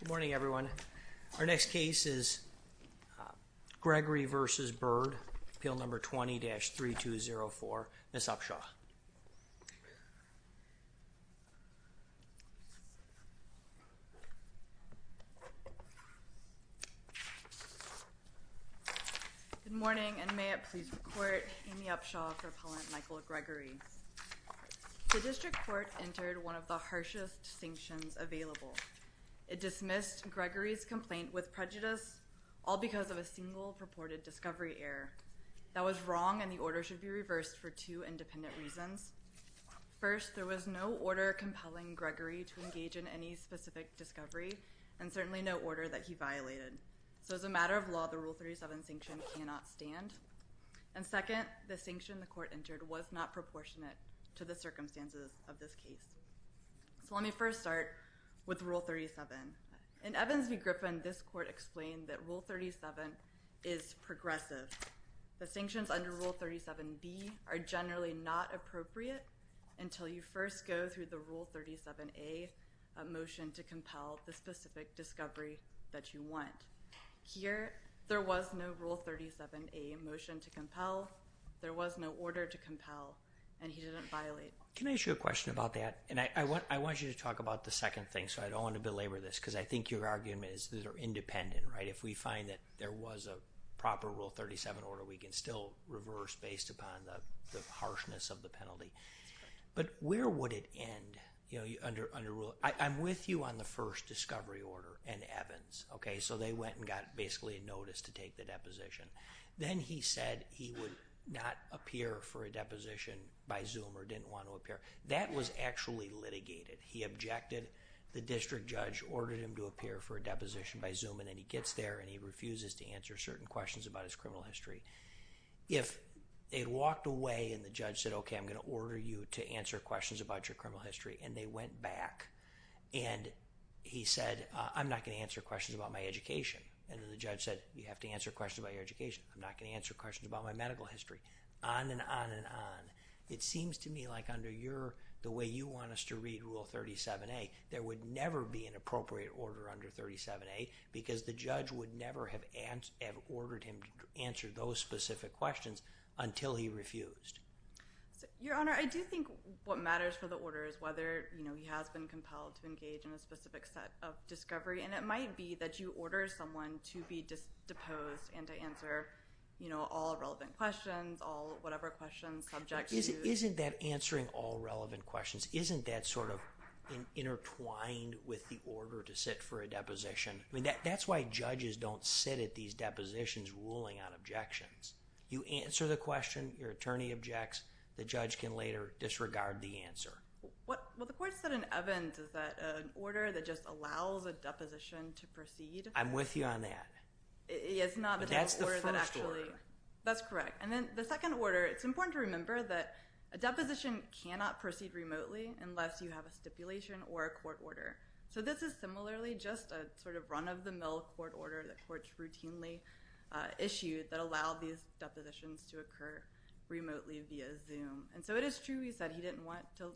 Good morning everyone. Our next case is Gregory v. Byrd, Appeal No. 20-3204, Ms. Upshaw. Good morning and may it please the Court, Amy Upshaw for Appellant Michael Gregory. The District Court entered one of the harshest sanctions available. It dismissed Gregory's complaint with prejudice, all because of a single purported discovery error. That was wrong and the order should be reversed for two independent reasons. First, there was no order compelling Gregory to engage in any specific discovery and certainly no order that he violated. So as a matter of law, the Rule 37 sanction cannot stand. And second, the sanction the Court entered was not proportionate to the circumstances of this case. So let me first start with Rule 37. In Evans v. Griffin, this Court explained that Rule 37 is progressive. The sanctions under Rule 37b are generally not appropriate until you first go through the Rule 37a motion to compel the specific discovery that you want. Here, there was no Rule 37a motion to compel, there was no order to compel, and he didn't violate. Can I ask you a question about that? And I want you to talk about the second thing, so I don't want to belabor this, because I think your argument is that they're independent, right? If we find that there was a proper Rule 37 order, we can still reverse based upon the harshness of the penalty. But where would it end, you know, under Rule? I'm with you on the first discovery order in Evans, okay? So they went and got basically a notice to take the deposition. Then he said he would not appear for a deposition by Zoom or didn't want to appear. That was actually litigated. He objected, the district judge ordered him to appear for a deposition by Zoom, and then he gets there and he refuses to answer certain questions about his criminal history. If they walked away and the judge said, okay, I'm going to order you to answer questions about your criminal history, and they went back and he said, I'm not going to answer questions about my education. And then the judge said, you have to answer questions about your education. I'm not going to answer questions about my medical history. On and on and on. It seems to me like under the way you want us to read Rule 37A, there would never be an appropriate order under 37A because the judge would never have ordered him to answer those specific questions until he refused. Your Honor, I do think what matters for the order is whether he has been compelled to engage in a specific set of discovery, and it might be that you order someone to be deposed and to answer all relevant questions, all whatever questions, subjects. Isn't that answering all relevant questions? Isn't that sort of intertwined with the order to sit for a deposition? I mean, that's why judges don't sit at these depositions ruling on objections. You answer the question. Your attorney objects. The judge can later disregard the answer. Well, the court said in Evans that an order that just allows a deposition to proceed. I'm with you on that. But that's the first order. That's correct. And then the second order, it's important to remember that a deposition cannot proceed remotely unless you have a stipulation or a court order. So this is similarly just a sort of run-of-the-mill court order that courts routinely issue that allow these depositions to occur remotely via Zoom. And so it is true he said he didn't want to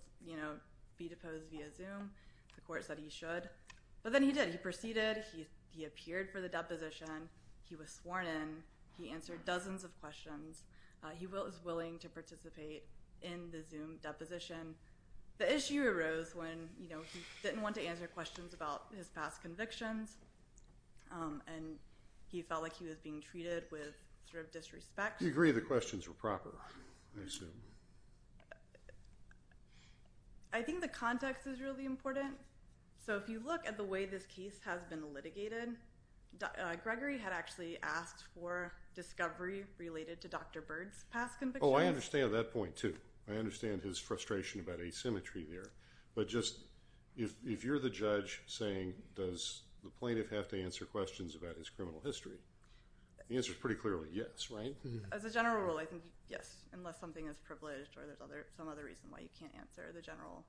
be deposed via Zoom. The court said he should. But then he did. He proceeded. He appeared for the deposition. He was sworn in. He answered dozens of questions. He was willing to participate in the Zoom deposition. The issue arose when he didn't want to answer questions about his past convictions and he felt like he was being treated with sort of disrespect. You agree the questions were proper, I assume. I think the context is really important. So if you look at the way this case has been litigated, Gregory had actually asked for discovery related to Dr. Bird's past convictions. Oh, I understand that point, too. I understand his frustration about asymmetry there. But just if you're the judge saying does the plaintiff have to answer questions about his criminal history, the answer is pretty clearly yes, right? As a general rule, I think yes, unless something is privileged or there's some other reason why you can't answer the general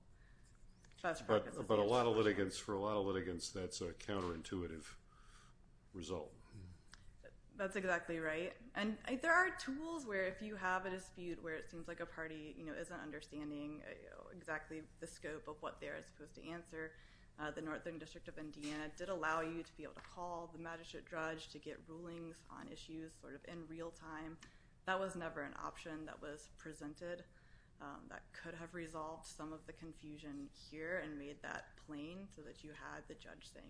question. But for a lot of litigants, that's a counterintuitive result. That's exactly right. And there are tools where if you have a dispute where it seems like a party isn't understanding exactly the scope of what they're supposed to answer, the Northern District of Indiana did allow you to be able to call the magistrate judge to get rulings on issues sort of in real time. That was never an option that was presented. That could have resolved some of the confusion here and made that plain so that you had the judge saying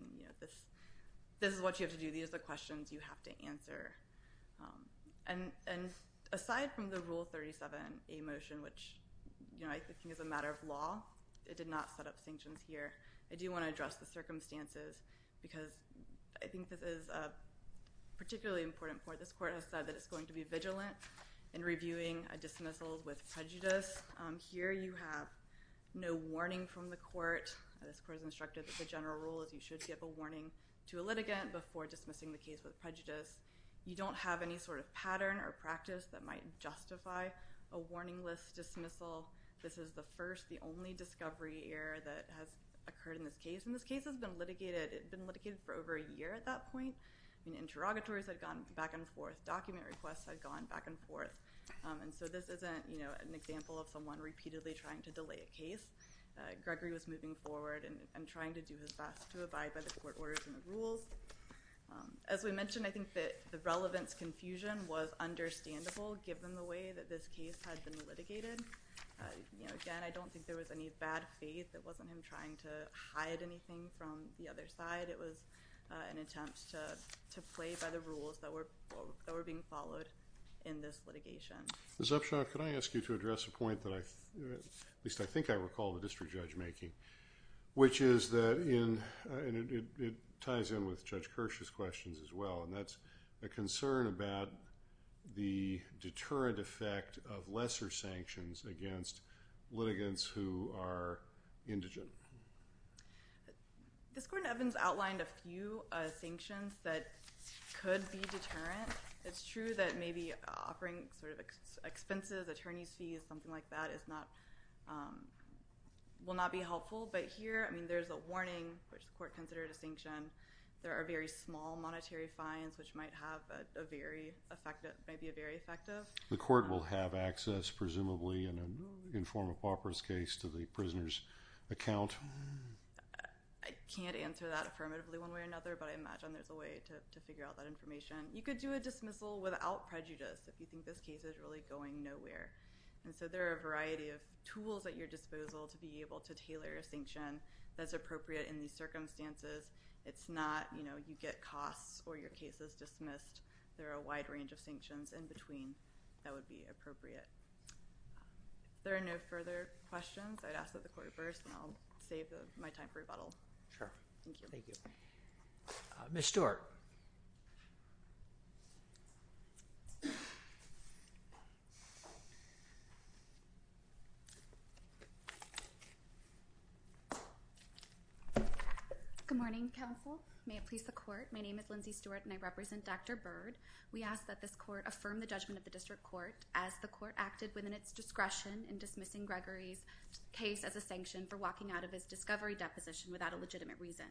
this is what you have to do. These are the questions you have to answer. And aside from the Rule 37A motion, which I think is a matter of law, it did not set up sanctions here, I do want to address the circumstances because I think this is a particularly important point. This court has said that it's going to be vigilant in reviewing a dismissal with prejudice. Here you have no warning from the court. This court has instructed that the general rule is you should give a warning to a litigant before dismissing the case with prejudice. You don't have any sort of pattern or practice that might justify a warningless dismissal. This is the first, the only discovery error that has occurred in this case. And this case has been litigated. It had been litigated for over a year at that point. Interrogatories had gone back and forth. Document requests had gone back and forth. Gregory was moving forward and trying to do his best to abide by the court orders and the rules. As we mentioned, I think that the relevance confusion was understandable given the way that this case had been litigated. Again, I don't think there was any bad faith. It wasn't him trying to hide anything from the other side. It was an attempt to play by the rules that were being followed in this litigation. Ms. Upshaw, can I ask you to address a point that I think I recall the district judge making, which is that it ties in with Judge Kirsch's questions as well, and that's a concern about the deterrent effect of lesser sanctions against litigants who are indigent. This court in Evans outlined a few sanctions that could be deterrent. It's true that maybe offering sort of expenses, attorney's fees, something like that, will not be helpful. But here, I mean, there's a warning, which the court considered a sanction. There are very small monetary fines, which might be very effective. The court will have access, presumably, in a form of pauperous case to the prisoner's account. I can't answer that affirmatively one way or another, but I imagine there's a way to figure out that information. You could do a dismissal without prejudice if you think this case is really going nowhere. And so there are a variety of tools at your disposal to be able to tailor a sanction that's appropriate in these circumstances. It's not, you know, you get costs or your case is dismissed. There are a wide range of sanctions in between that would be appropriate. If there are no further questions, I'd ask that the court reverse, and I'll save my time for rebuttal. Sure. Thank you. Ms. Stewart. Good morning, counsel. May it please the court. My name is Lindsay Stewart, and I represent Dr. Byrd. We ask that this court affirm the judgment of the district court as the court acted within its discretion in dismissing Gregory's case as a sanction for walking out of his discovery deposition without a legitimate reason.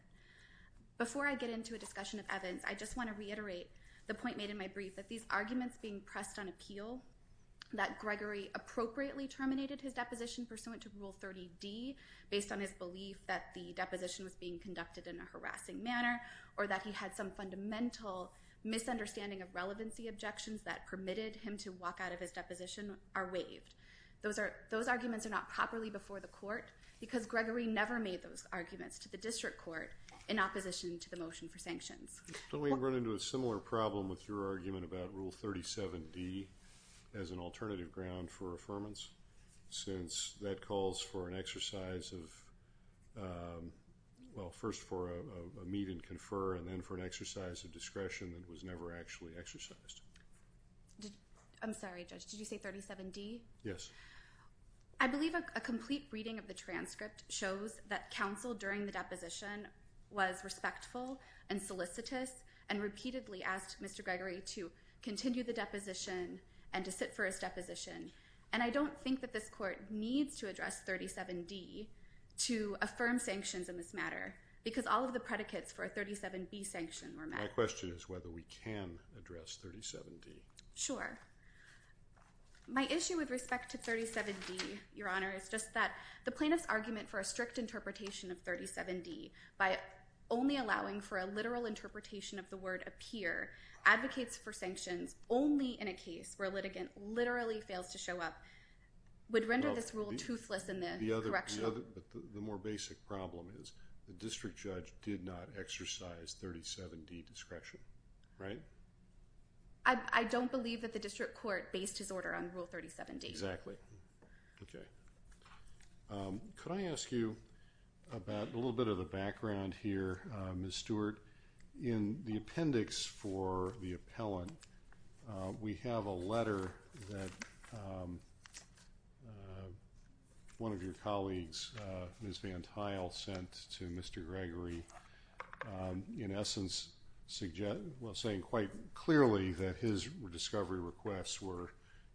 Before I get into a discussion of evidence, I just want to reiterate the point made in my brief, that these arguments being pressed on appeal, that Gregory appropriately terminated his deposition pursuant to Rule 30D based on his belief that the deposition was being conducted in a harassing manner, or that he had some fundamental misunderstanding of relevancy objections that permitted him to walk out of his deposition, are waived. Those arguments are not properly before the court, because Gregory never made those arguments to the district court in opposition to the motion for sanctions. Don't we run into a similar problem with your argument about Rule 37D as an alternative ground for affirmance, since that calls for an exercise of, well, first for a meet and confer, and then for an exercise of discretion that was never actually exercised. I'm sorry, Judge, did you say 37D? Yes. I believe a complete reading of the transcript shows that counsel during the deposition was respectful and solicitous, and repeatedly asked Mr. Gregory to continue the deposition and to sit for his deposition. And I don't think that this court needs to address 37D to affirm sanctions in this matter, because all of the predicates for a 37B sanction were met. My question is whether we can address 37D. Sure. My issue with respect to 37D, Your Honor, is just that the plaintiff's argument for a strict interpretation of 37D by only allowing for a literal interpretation of the word appear, advocates for sanctions only in a case where a litigant literally fails to show up, would render this rule toothless in the correctional. But the more basic problem is the district judge did not exercise 37D discretion, right? I don't believe that the district court based his order on Rule 37D. Exactly. Okay. Could I ask you about a little bit of the background here, Ms. Stewart? In the appendix for the appellant, we have a letter that one of your colleagues, Ms. Van Tile, sent to Mr. Gregory in essence saying quite clearly that his discovery requests were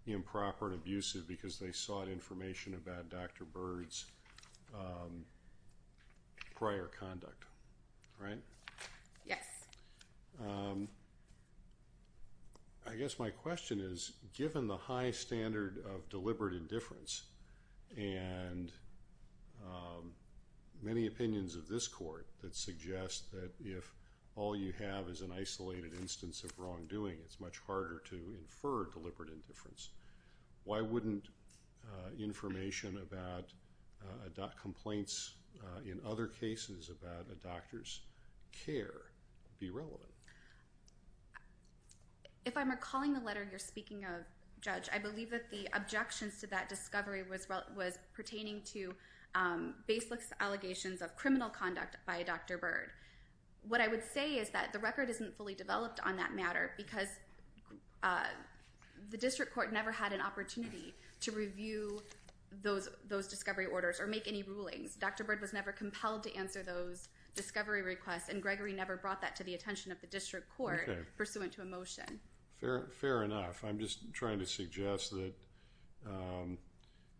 improper and abusive because they sought information about Dr. Bird's prior conduct, right? Yes. I guess my question is given the high standard of deliberate indifference and many opinions of this court that suggest that if all you have is an isolated instance of wrongdoing, it's much harder to infer deliberate indifference. Why wouldn't information about complaints in other cases about a doctor's care be relevant? If I'm recalling the letter you're speaking of, Judge, I believe that the objections to that discovery was pertaining to baseless allegations of criminal conduct by Dr. Bird. What I would say is that the record isn't fully developed on that matter because the district court never had an opportunity to review those discovery orders or make any rulings. Dr. Bird was never compelled to answer those discovery requests and Gregory never brought that to the attention of the district court pursuant to a motion. Fair enough. I'm just trying to suggest that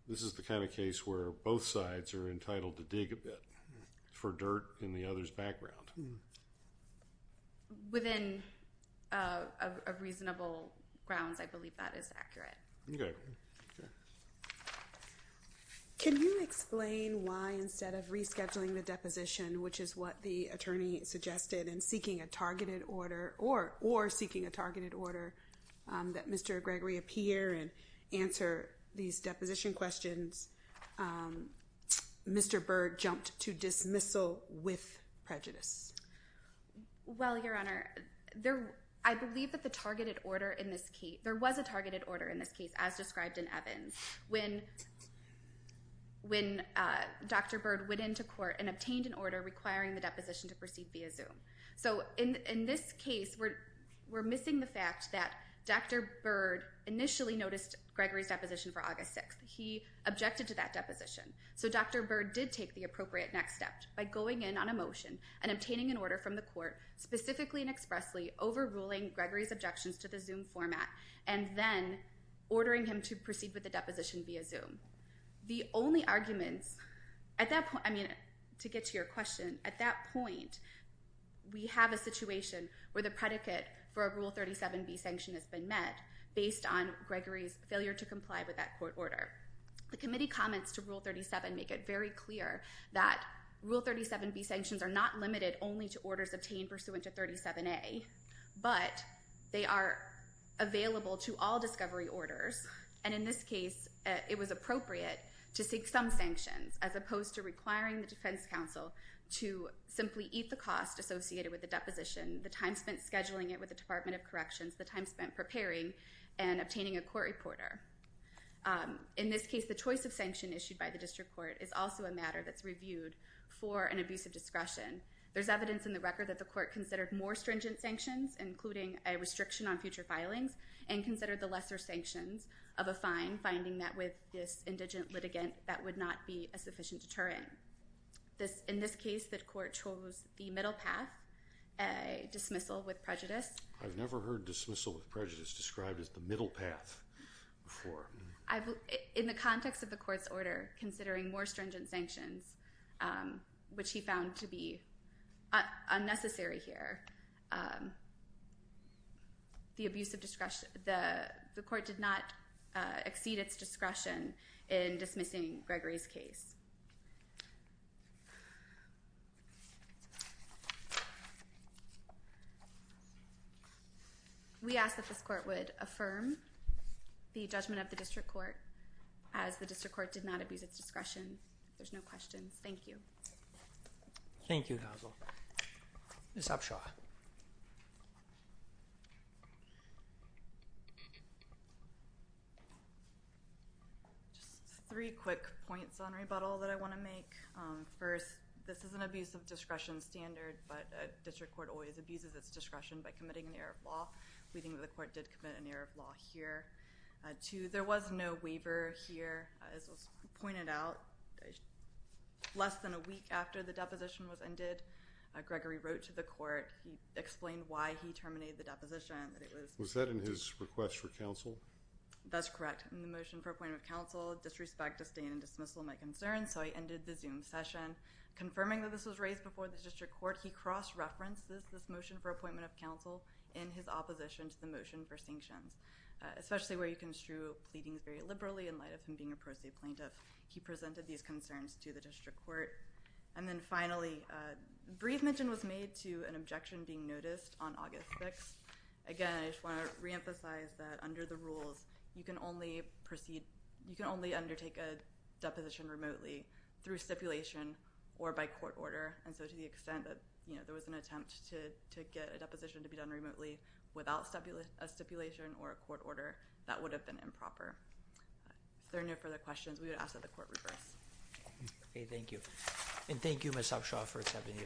this is the kind of case where both sides are entitled to dig a bit for dirt in the other's background. Within reasonable grounds, I believe that is accurate. Okay. Can you explain why instead of rescheduling the deposition, which is what the attorney suggested, and seeking a targeted order or seeking a targeted order that Mr. Gregory appear and answer these deposition questions, Mr. Bird jumped to dismissal with prejudice? Well, Your Honor, I believe that there was a targeted order in this case, as described in Evans, when Dr. Bird went into court and obtained an order requiring the deposition to proceed via Zoom. In this case, we're missing the fact that Dr. Bird initially noticed Gregory's deposition for August 6th. He objected to that deposition. So Dr. Bird did take the appropriate next step by going in on a motion and obtaining an order from the court, specifically and expressly overruling Gregory's objections to the Zoom format and then ordering him to proceed with the deposition via Zoom. The only arguments at that point, I mean, to get to your question, at that point, we have a situation where the predicate for a Rule 37b sanction has been met based on Gregory's failure to comply with that court order. The committee comments to Rule 37 make it very clear that Rule 37b sanctions are not limited only to orders obtained pursuant to 37a, but they are available to all discovery orders, and in this case, it was appropriate to seek some sanctions as opposed to requiring the defense counsel to simply eat the cost associated with the deposition, the time spent scheduling it with the Department of Corrections, the time spent preparing and obtaining a court reporter. In this case, the choice of sanction issued by the district court is also a matter that's reviewed for an abuse of discretion. There's evidence in the record that the court considered more stringent sanctions, including a restriction on future filings, and considered the lesser sanctions of a fine, finding that with this indigent litigant that would not be a sufficient deterrent. In this case, the court chose the middle path, a dismissal with prejudice. I've never heard dismissal with prejudice described as the middle path. In the context of the court's order, considering more stringent sanctions, which he found to be unnecessary here, the court did not exceed its discretion in dismissing Gregory's case. We ask that this court would affirm the judgment of the district court as the district court did not abuse its discretion. If there's no questions, thank you. Thank you, Hazel. Ms. Abshaw. Just three quick points on rebuttal. First, this is an abuse of discretion standard, but a district court always abuses its discretion by committing an error of law. We think that the court did commit an error of law here. Two, there was no waiver here. As was pointed out, less than a week after the deposition was ended, Gregory wrote to the court. He explained why he terminated the deposition. Was that in his request for counsel? That's correct. In the motion for appointment of counsel, he said, I have full disrespect, disdain, and dismissal of my concerns, so I ended the Zoom session. Confirming that this was raised before the district court, he cross-referenced this motion for appointment of counsel in his opposition to the motion for sanctions, especially where you construe pleadings very liberally in light of him being a pro se plaintiff. He presented these concerns to the district court. And then finally, a brief mention was made to an objection being noticed Again, I just want to reemphasize that under the rules, you can only undertake a deposition remotely through stipulation or by court order. And so to the extent that there was an attempt to get a deposition to be done remotely without a stipulation or a court order, that would have been improper. If there are no further questions, we would ask that the court reverse. Okay, thank you. And thank you, Ms. Upshaw, for accepting the appointment. Thank you. Thank you.